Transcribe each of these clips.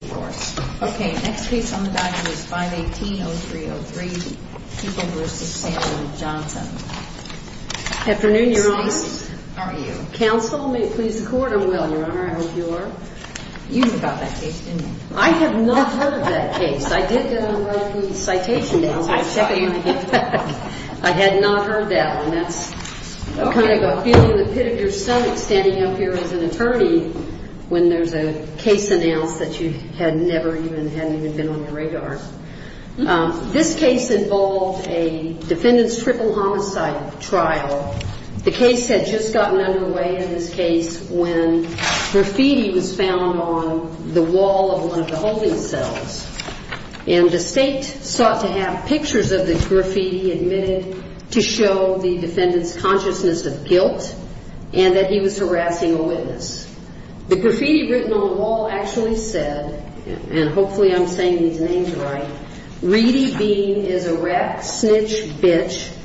518-0303 People v. Samuel Johnson This case involved a defendant's triple homicide trial. The case had just gotten underway in this case when graffiti was found on the wall of one of the holding cells. And the state sought to have pictures of the graffiti admitted to show the defendant's consciousness of guilt and that he was harassing a witness. The graffiti written on the wall actually said, Reedy Bean is a wreck, snitch, bitch,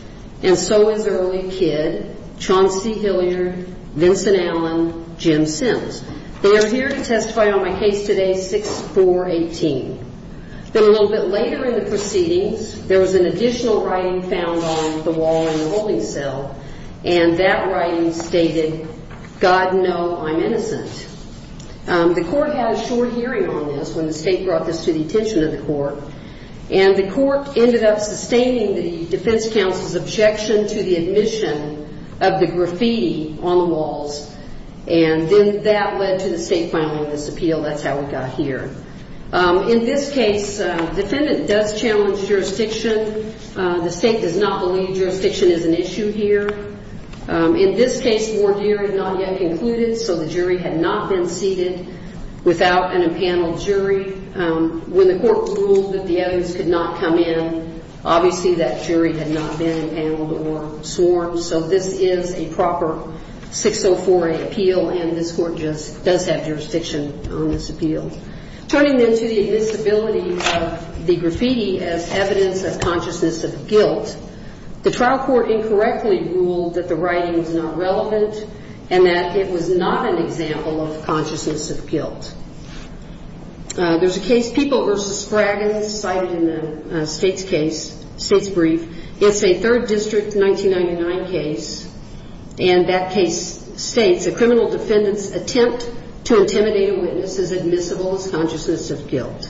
and so is early kid, Chauncey Hilliard, Vincent Allen, Jim Sims. They are here to testify on my case today, 6418. Then a little bit later in the proceedings, there was an additional writing found on the wall in the holding cell, and that writing stated, God know I'm innocent. The court had a short hearing on this, and I'm not going to go into that. The court ended up sustaining the defense counsel's objection to the admission of the graffiti on the walls, and then that led to the state filing this appeal. That's how we got here. In this case, the defendant does challenge jurisdiction. The state does not believe jurisdiction is an issue here. In this case, the ward hearing had not yet concluded, so the jury had not been seated without an impaneled jury. When the court ruled that the evidence could not come in, obviously that jury had not been impaneled or sworn, so this is a proper 6048 appeal, and this court just does have jurisdiction on this appeal. Turning then to the admissibility of the graffiti as evidence of consciousness of guilt, the trial court incorrectly ruled that the writing was not relevant and that it was not an example of consciousness of guilt. There's a case, People v. Scraggins, cited in the state's brief. It's a 3rd District 1999 case, and that case states, a criminal defendant's attempt to intimidate a witness is admissible as consciousness of guilt.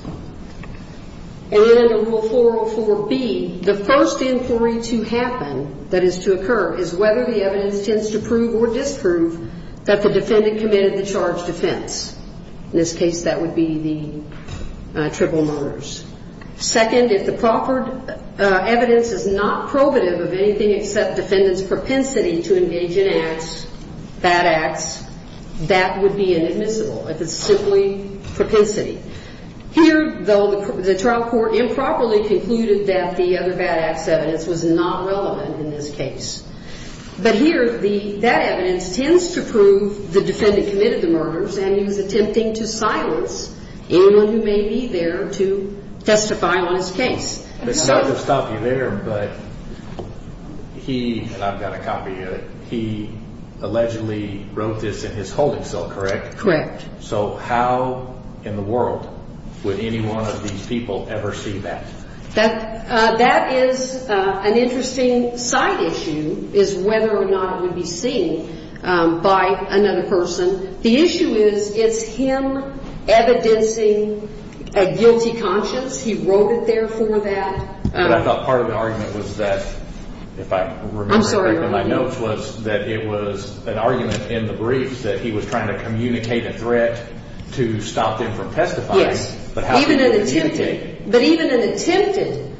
And then in Rule 404B, the first inquiry to happen, that is to occur, is whether the evidence tends to prove or disprove that the defendant committed the charged offense. In this case, that would be the triple murders. Second, if the proffered evidence is not probative of anything except defendant's propensity to engage in acts, bad acts, that would be inadmissible, if it's simply propensity. Here, though, the trial court improperly concluded that the other bad acts evidence was not relevant in this case. But here, that evidence tends to prove the defendant committed the murders, and he was attempting to silence anyone who may be there to testify on his case. It's not going to stop you there, but he, and I've got a copy of it, he allegedly wrote this in his holding cell, correct? Correct. So how in the world would any one of these people ever see that? That is an interesting side issue, is whether or not it would be seen by another person. The issue is, is him evidencing a guilty conscience? He wrote it there for that? But I thought part of the argument was that, if I remember correctly, my notes was that it was an argument in the briefs that he was trying to communicate a threat to the defendant. A threat to stop them from testifying. Yes, but even an attempted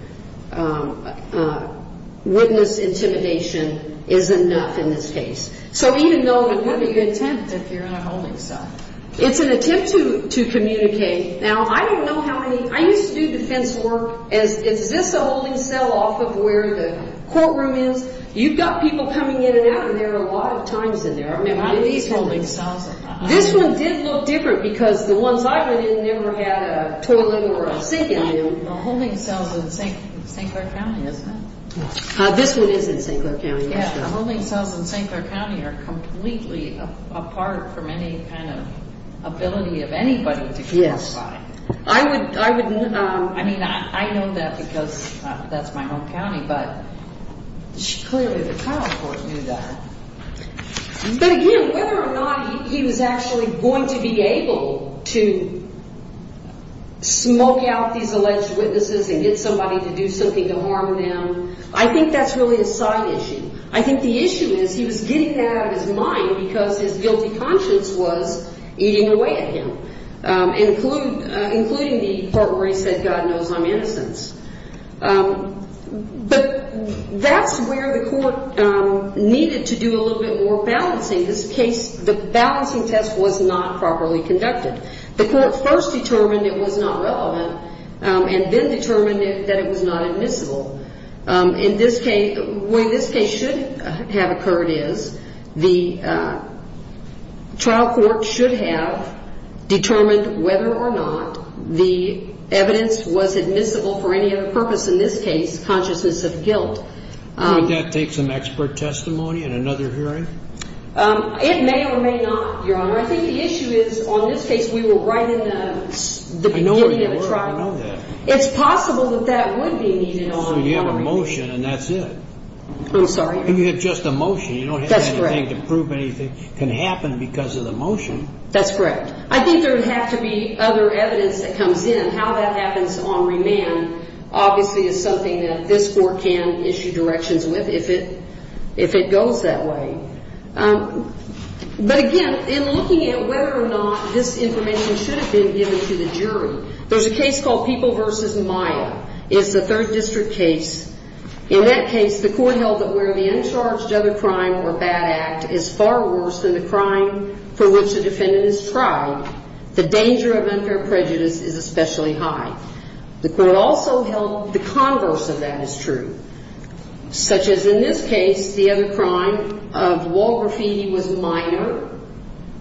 witness intimidation is enough in this case. But what do you attempt if you're in a holding cell? It's an attempt to communicate. Now, I used to do defense work as, is this a holding cell off of where the courtroom is? You've got people coming in and out of there a lot of times in there. This one did look different because the ones I've been in never had a toilet or a sink in them. A holding cell is in St. Clair County, isn't it? This one is in St. Clair County. Yeah, a holding cell in St. Clair County are completely apart from any kind of ability of anybody to cross by. I would, I mean, I know that because that's my home county, but clearly the trial court knew that. But again, whether or not he was actually going to be able to smoke out these alleged witnesses and get somebody to do something to harm them, I think that's really a side issue. I think the issue is he was getting that out of his mind because his guilty conscience was eating away at him, including the part where he said, God knows I'm innocent. But that's where the court needed to do a little bit more balancing. This case, the balancing test was not properly conducted. The court first determined it was not relevant and then determined that it was not admissible. In this case, the way this case should have occurred is the trial court should have determined whether or not the evidence was admissible for any other purpose. In this case, consciousness of guilt. Would that take some expert testimony in another hearing? It may or may not, Your Honor. I think the issue is on this case we were right in the beginning of the trial. It's possible that that would be needed on remand. So you have a motion and that's it? I'm sorry? You have just a motion. You don't have anything to prove anything can happen because of the motion. That's correct. I think there would have to be other evidence that comes in. How that happens on remand obviously is something that this court can issue directions with if it goes that way. But again, in looking at whether or not this information should have been given to the jury, there's a case called People v. Maya. In that case, the court held that where the uncharged other crime or bad act is far worse than the crime for which the defendant has tried, the danger of unfair prejudice is especially high. The court also held the converse of that is true, such as in this case, the other crime of wall graffiti was minor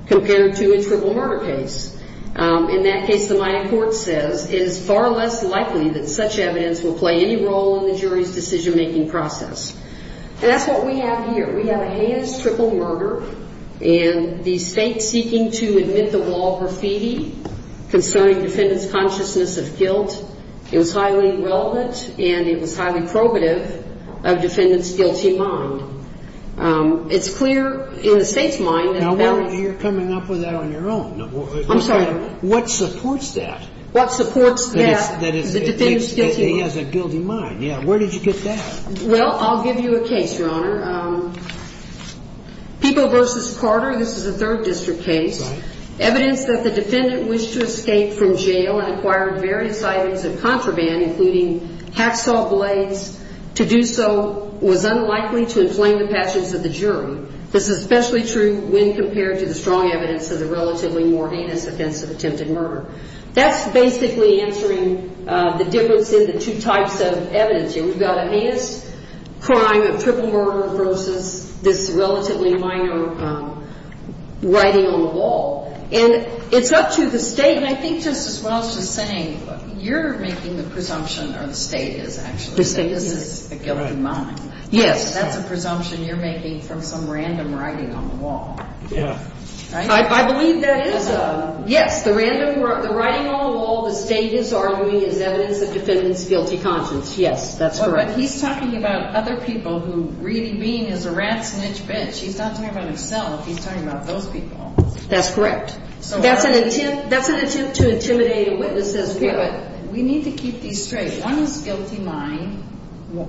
compared to a triple murder case. In that case, the Maya court says it is far less likely that such evidence will play any role in the jury's decision-making process. And that's what we have here. We have a Hayes triple murder and the state seeking to admit the wall graffiti concerning defendant's consciousness of guilt. It was highly relevant and it was highly probative of defendant's guilty mind. It's clear in the state's mind. Now, you're coming up with that on your own. I'm sorry. What supports that? What supports that? That he has a guilty mind. Yeah. Where did you get that? Well, I'll give you a case, Your Honor. People v. Carter, this is a third district case. Evidence that the defendant wished to escape from jail and acquired various items of contraband, including hacksaw blades, to do so was unlikely to inflame the passions of the jury. This is especially true when compared to the strong evidence of the relatively more heinous offense of attempted murder. That's basically answering the difference in the two types of evidence here. You've got a Hayes crime, a triple murder versus this relatively minor writing on the wall. And it's up to the state. And I think Justice Walsh is saying you're making the presumption, or the state is actually. The state is. This is a guilty mind. Yes. That's a presumption you're making from some random writing on the wall. Yeah. Right? I believe that is. Yes. The writing on the wall the state is arguing is evidence of defendant's guilty conscience. Yes, that's correct. But he's talking about other people who really being as a rat snitch bitch. He's not talking about himself. He's talking about those people. That's correct. That's an attempt to intimidate witnesses. But we need to keep these straight. One is guilty mind. One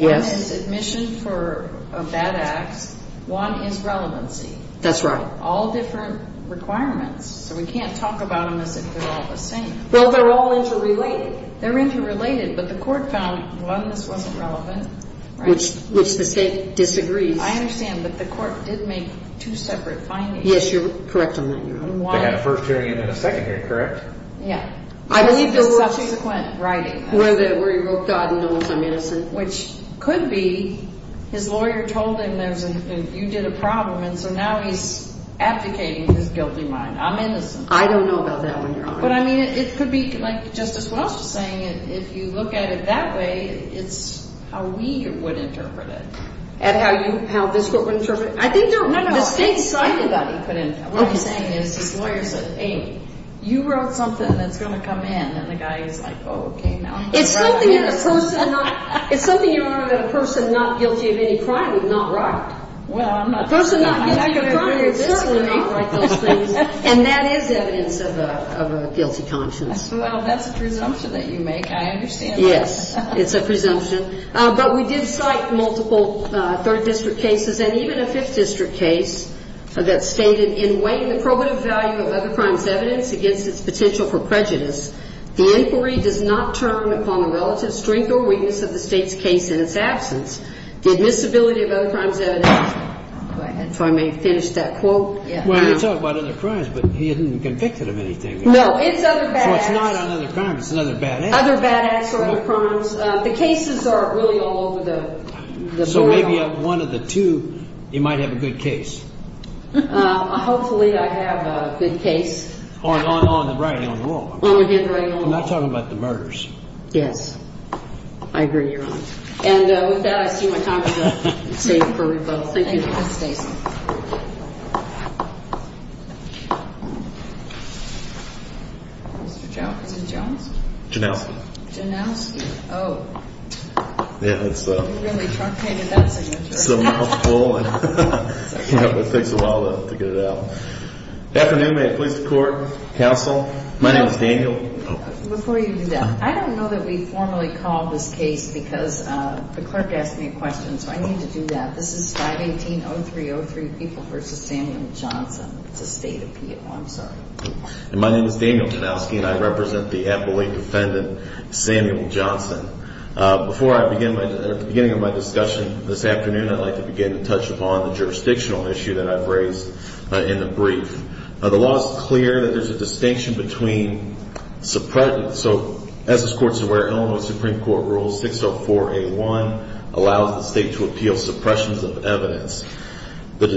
is admission for a bad act. One is relevancy. That's right. All different requirements. So we can't talk about them as if they're all the same. Well, they're all interrelated. They're interrelated. But the court found, one, this wasn't relevant. Which the state disagrees. I understand. But the court did make two separate findings. Yes, you're correct on that, Your Honor. They had a first hearing and then a second hearing, correct? Yeah. I believe the subsequent writing. Where he wrote God knows I'm innocent. Which could be his lawyer told him you did a problem, and so now he's abdicating his guilty mind. I'm innocent. I don't know about that one, Your Honor. But, I mean, it could be, like Justice Welch was saying, if you look at it that way, it's how we would interpret it. How this court would interpret it? No, no. The state decided that he couldn't. What he's saying is his lawyer said, Amy, you wrote something that's going to come in. And the guy is like, oh, okay. It's something you wrote that a person not guilty of any crime would not write. Well, I'm not guilty of any crime. And that is evidence of a guilty conscience. Well, that's a presumption that you make. I understand that. Yes. It's a presumption. But we did cite multiple third district cases and even a fifth district case that stated, in weighing the probative value of other crimes' evidence against its potential for prejudice, the inquiry does not turn upon the relative strength or weakness of the state's case in its absence. The admissibility of other crimes' evidence. If I may finish that quote. Well, you talk about other crimes, but he isn't convicted of anything. No, it's other bad acts. So it's not another crime. It's another bad act. Other bad acts or other crimes. The cases are really all over the board. So maybe one of the two, you might have a good case. Hopefully I have a good case. On the writing on the wall. On the handwriting on the wall. I'm not talking about the murders. Yes. I agree, Your Honor. And with that, I see my time is up. It's safe for revote. Thank you. Thank you, Mr. Stacey. Mr. Jones? Janowski. Janowski. Oh. You really truncated that signature. It's a mouthful. It takes a while to get it out. Good afternoon. May it please the Court, Counsel. My name is Daniel. Before you do that, I don't know that we formally called this case because the clerk asked me a question. So I need to do that. This is 518-0303, People v. Samuel Johnson. It's a state appeal. I'm sorry. And my name is Daniel Janowski, and I represent the appellate defendant, Samuel Johnson. Before I begin, at the beginning of my discussion this afternoon, I'd like to begin to touch upon the jurisdictional issue that I've raised in the brief. The law is clear that there's a distinction between suppression. So as this Court's aware, Illinois Supreme Court Rule 604A1 allows the state to appeal suppressions of evidence. And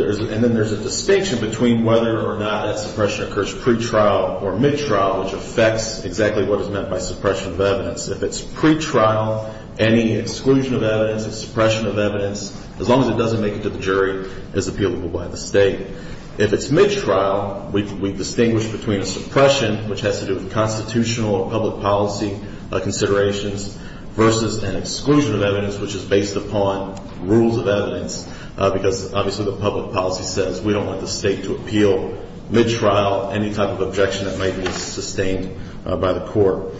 then there's a distinction between whether or not that suppression occurs pretrial or midtrial, which affects exactly what is meant by suppression of evidence. If it's pretrial, any exclusion of evidence, suppression of evidence, as long as it doesn't make it to the jury, is appealable by the state. If it's midtrial, we distinguish between a suppression, which has to do with constitutional or public policy considerations, versus an exclusion of evidence, which is based upon rules of evidence, because obviously the public policy says we don't want the state to appeal midtrial any type of objection that might be sustained by the court.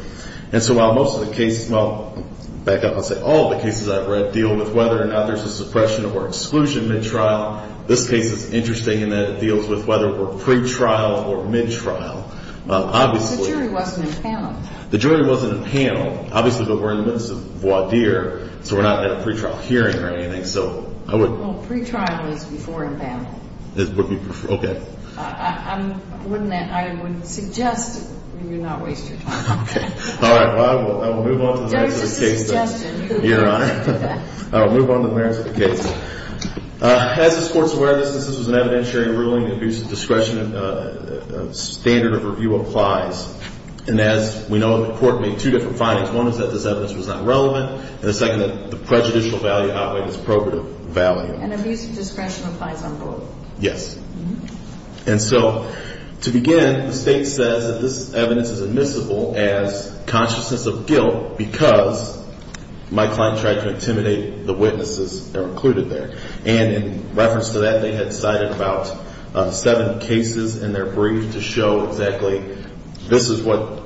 And so while most of the cases, well, back up and say all the cases I've read deal with whether or not there's a suppression or exclusion midtrial, this case is interesting in that it deals with whether we're pretrial or midtrial. Obviously. The jury wasn't in panel. The jury wasn't in panel. Obviously, but we're in the midst of voir dire, so we're not at a pretrial hearing or anything. So I would. Well, pretrial is before in panel. Okay. I would suggest you not waste your time. Okay. All right. Well, I will move on to the merits of the case. There is a suggestion. Your Honor. I will move on to the merits of the case. As this Court's aware of this, this was an evidentiary ruling. The abuse of discretion standard of review applies. And as we know, the Court made two different findings. One is that this evidence was not relevant, and the second, that the prejudicial value outweighed its probative value. And abuse of discretion applies on both. Yes. And so to begin, the State says that this evidence is admissible as consciousness of guilt because my client tried to intimidate the witnesses that are included there. And in reference to that, they had cited about seven cases in their brief to show exactly this is what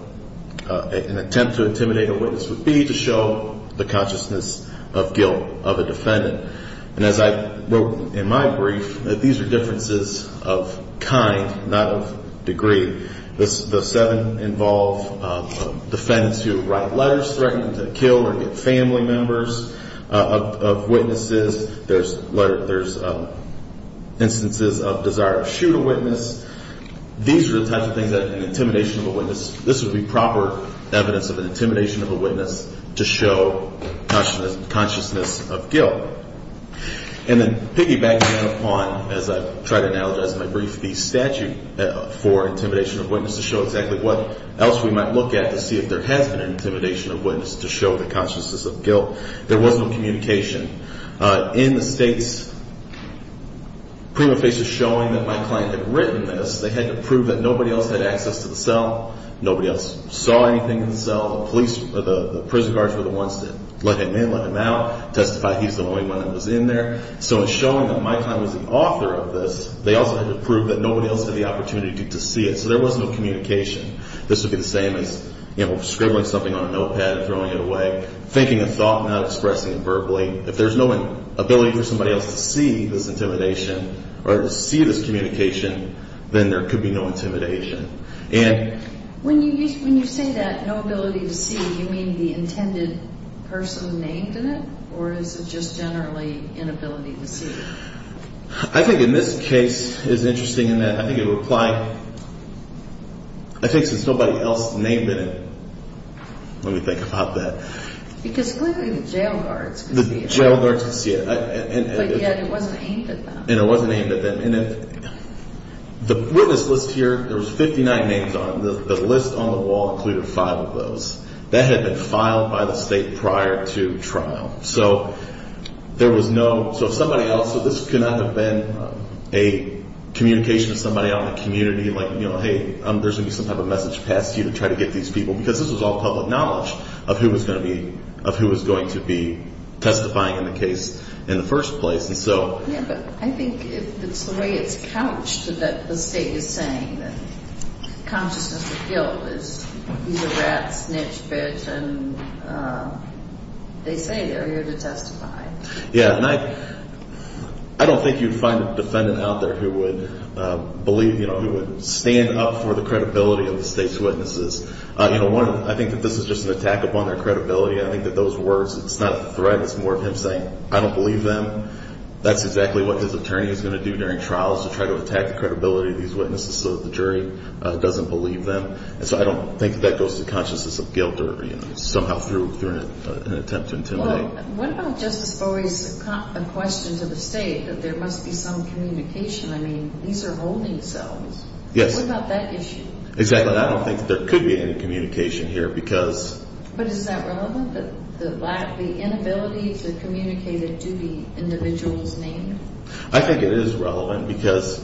an attempt to intimidate a witness would be, to show the consciousness of guilt of a defendant. And as I wrote in my brief, these are differences of kind, not of degree. The seven involve defendants who write letters threatening to kill or get family members of witnesses. There's instances of desire to shoot a witness. These are the types of things that an intimidation of a witness, this would be proper evidence of an intimidation of a witness to show consciousness of guilt. And then piggybacking on, as I've tried to analogize in my brief, the statute for intimidation of witnesses to show exactly what else we might look at to see if there has been an intimidation of witnesses to show the consciousness of guilt. There was no communication. In the States, prima facie showing that my client had written this, they had to prove that nobody else had access to the cell. Nobody else saw anything in the cell. The prison guards were the ones that let him in, let him out, testified he's the only one that was in there. So in showing that my client was the author of this, they also had to prove that nobody else had the opportunity to see it. So there was no communication. This would be the same as scribbling something on a notepad and throwing it away, thinking a thought and not expressing it verbally. If there's no ability for somebody else to see this intimidation or to see this communication, then there could be no intimidation. When you say that, no ability to see, do you mean the intended person named in it, or is it just generally inability to see? I think in this case it's interesting in that I think it would apply I think since nobody else named it, let me think about that. Because clearly the jail guards could see it. The jail guards could see it. But yet it wasn't aimed at them. And it wasn't aimed at them. And with this list here, there was 59 names on it. The list on the wall included five of those. That had been filed by the state prior to trial. So there was no, so if somebody else, this could not have been a communication to somebody out in the community, like, hey, there's going to be some type of message passed to you to try to get these people, because this was all public knowledge of who was going to be testifying in the case in the first place. Yeah, but I think it's the way it's couched that the state is saying that consciousness of guilt is either rat, snitch, bitch, and they say they're here to testify. Yeah, and I don't think you'd find a defendant out there who would believe, who would stand up for the credibility of the state's witnesses. I think that this is just an attack upon their credibility. I think that those words, it's not a threat. It's more of him saying, I don't believe them. That's exactly what his attorney is going to do during trials to try to attack the credibility of these witnesses so that the jury doesn't believe them. And so I don't think that goes to consciousness of guilt or somehow through an attempt to intimidate. Well, what about Justice Borre's question to the state that there must be some communication? I mean, these are holding cells. Yes. What about that issue? Exactly. I don't think that there could be any communication here because... But is that relevant? The inability to communicate a duty individual's name? I think it is relevant because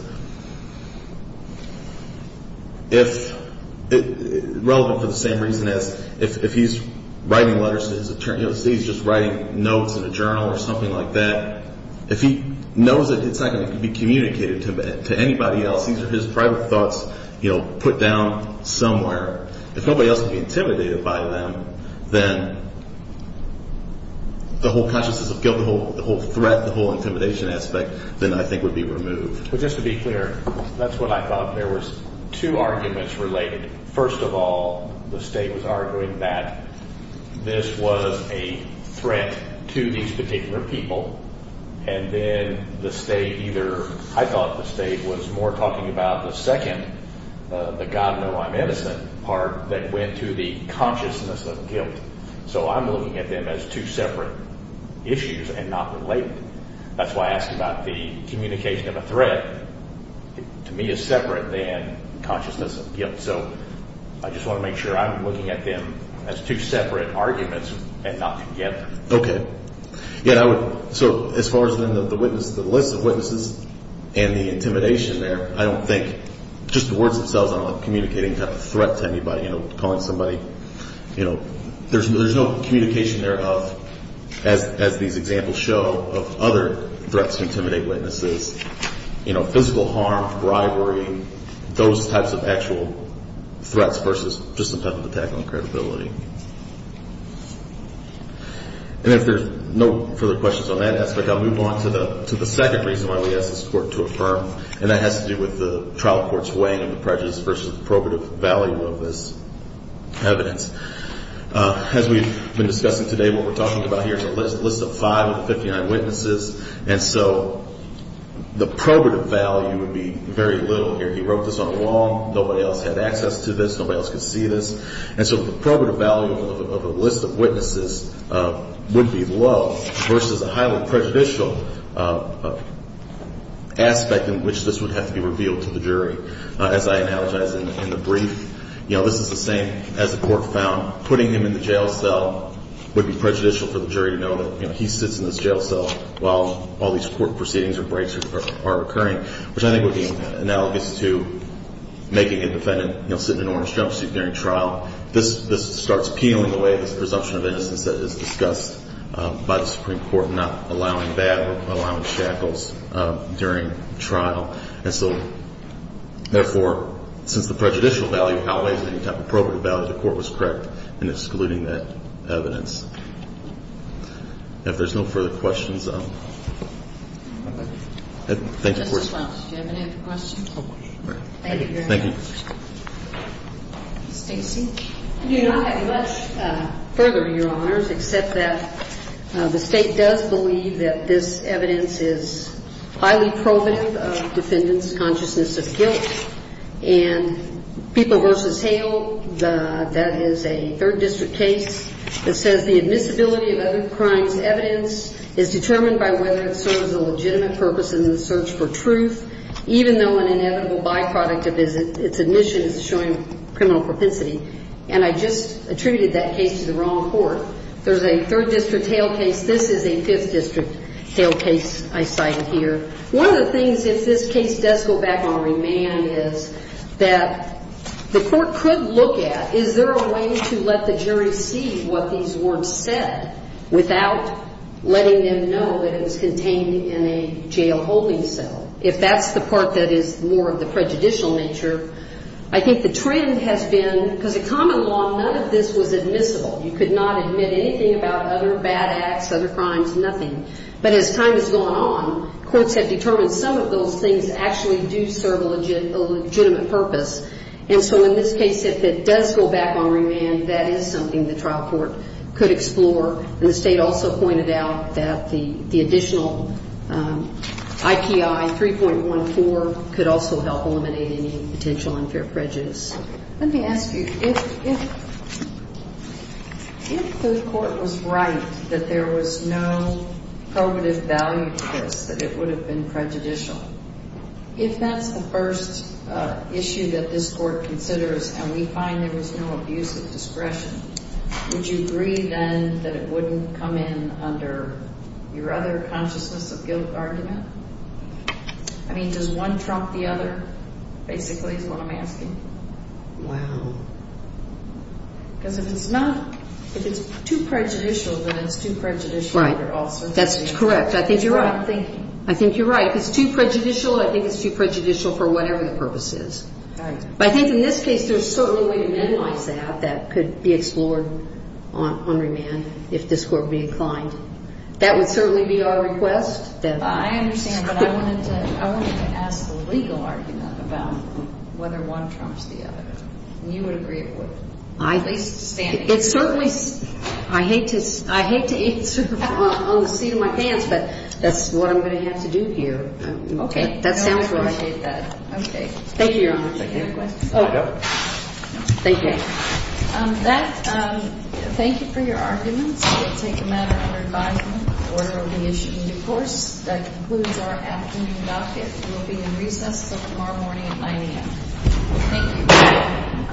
if... Relevant for the same reason as if he's writing letters to his attorney, or he's just writing notes in a journal or something like that, if he knows that it's not going to be communicated to anybody else, these are his private thoughts put down somewhere. If nobody else would be intimidated by them, then the whole consciousness of guilt, the whole threat, the whole intimidation aspect, then I think would be removed. But just to be clear, that's what I thought. There were two arguments related. First of all, the state was arguing that this was a threat to these particular people, and then the state either... I thought the state was more talking about the second, the God know I'm innocent part that went to the consciousness of guilt. So I'm looking at them as two separate issues and not related. That's why I asked about the communication of a threat. To me, it's separate than consciousness of guilt. So I just want to make sure I'm looking at them as two separate arguments and not together. Okay. So as far as the list of witnesses and the intimidation there, I don't think just the words themselves are communicating a threat to anybody, calling somebody... There's no communication thereof, as these examples show, of other threats to intimidate witnesses, physical harm, bribery, those types of actual threats versus just some type of attack on credibility. And if there's no further questions on that aspect, I'll move on to the second reason why we asked this Court to affirm, and that has to do with the trial court's weighing of the prejudice versus the probative value of this evidence. As we've been discussing today, what we're talking about here is a list of 559 witnesses, and so the probative value would be very little here. He wrote this on a wall. Nobody else had access to this. Nobody else could see this. And so the probative value of a list of witnesses would be low versus a highly prejudicial aspect in which this would have to be revealed to the jury. As I analogized in the brief, you know, this is the same as the court found. Putting him in the jail cell would be prejudicial for the jury to know that, you know, he sits in this jail cell while all these court proceedings or breaks are occurring, which I think would be analogous to making a defendant, you know, sit in an orange jumpsuit during trial. This starts peeling away this presumption of innocence that is discussed by the Supreme Court, not allowing bad or allowing shackles during trial. And so, therefore, since the prejudicial value outweighs any type of probative value, the court was correct in excluding that evidence. If there's no further questions, thank you for your time. Do you have any other questions? Thank you very much. Thank you. Stacey? I do not have much further, Your Honors, except that the State does believe that this evidence is highly probative of defendants' consciousness of guilt. And People v. Hale, that is a third district case that says the admissibility of other crimes' evidence is determined by whether it serves a legitimate purpose in the search for truth, even though an inevitable byproduct of its admission is showing criminal propensity. And I just attributed that case to the wrong court. There's a third district Hale case. This is a fifth district Hale case I cited here. One of the things, if this case does go back on remand, is that the court could look at is there a way to let the jury see what these weren't said without letting them know that it was contained in a jail holding cell. If that's the part that is more of the prejudicial nature, I think the trend has been, because in common law, none of this was admissible. You could not admit anything about other bad acts, other crimes, nothing. But as time has gone on, courts have determined some of those things actually do serve a legitimate purpose. And so in this case, if it does go back on remand, that is something the trial court could explore. And the State also pointed out that the additional IPI 3.14 could also help eliminate any potential unfair prejudice. Let me ask you, if the court was right that there was no probative value to this, that it would have been prejudicial, if that's the first issue that this court considers and we find there was no abuse of discretion, would you agree then that it wouldn't come in under your other consciousness of guilt argument? I mean, does one trump the other, basically, is what I'm asking. Wow. Because if it's not, if it's too prejudicial, then it's too prejudicial. Right. That's correct. I think you're right. That's what I'm thinking. I think you're right. If it's too prejudicial, I think it's too prejudicial for whatever the purpose is. Right. But I think in this case, there's certainly a way to minimize that that could be explored on remand if this court would be inclined. That would certainly be our request. I understand, but I wanted to ask the legal argument about whether one trumps the other. And you would agree it would. I hate to answer on the seat of my pants, but that's what I'm going to have to do here. Okay. That sounds right. I appreciate that. Okay. Thank you, Your Honor. Any other questions? No. Thank you. Thank you for your arguments. This will take a matter under advisement. The order will be issued in due course. That concludes our afternoon docket. We will be in recess until tomorrow morning at 9 a.m. Thank you.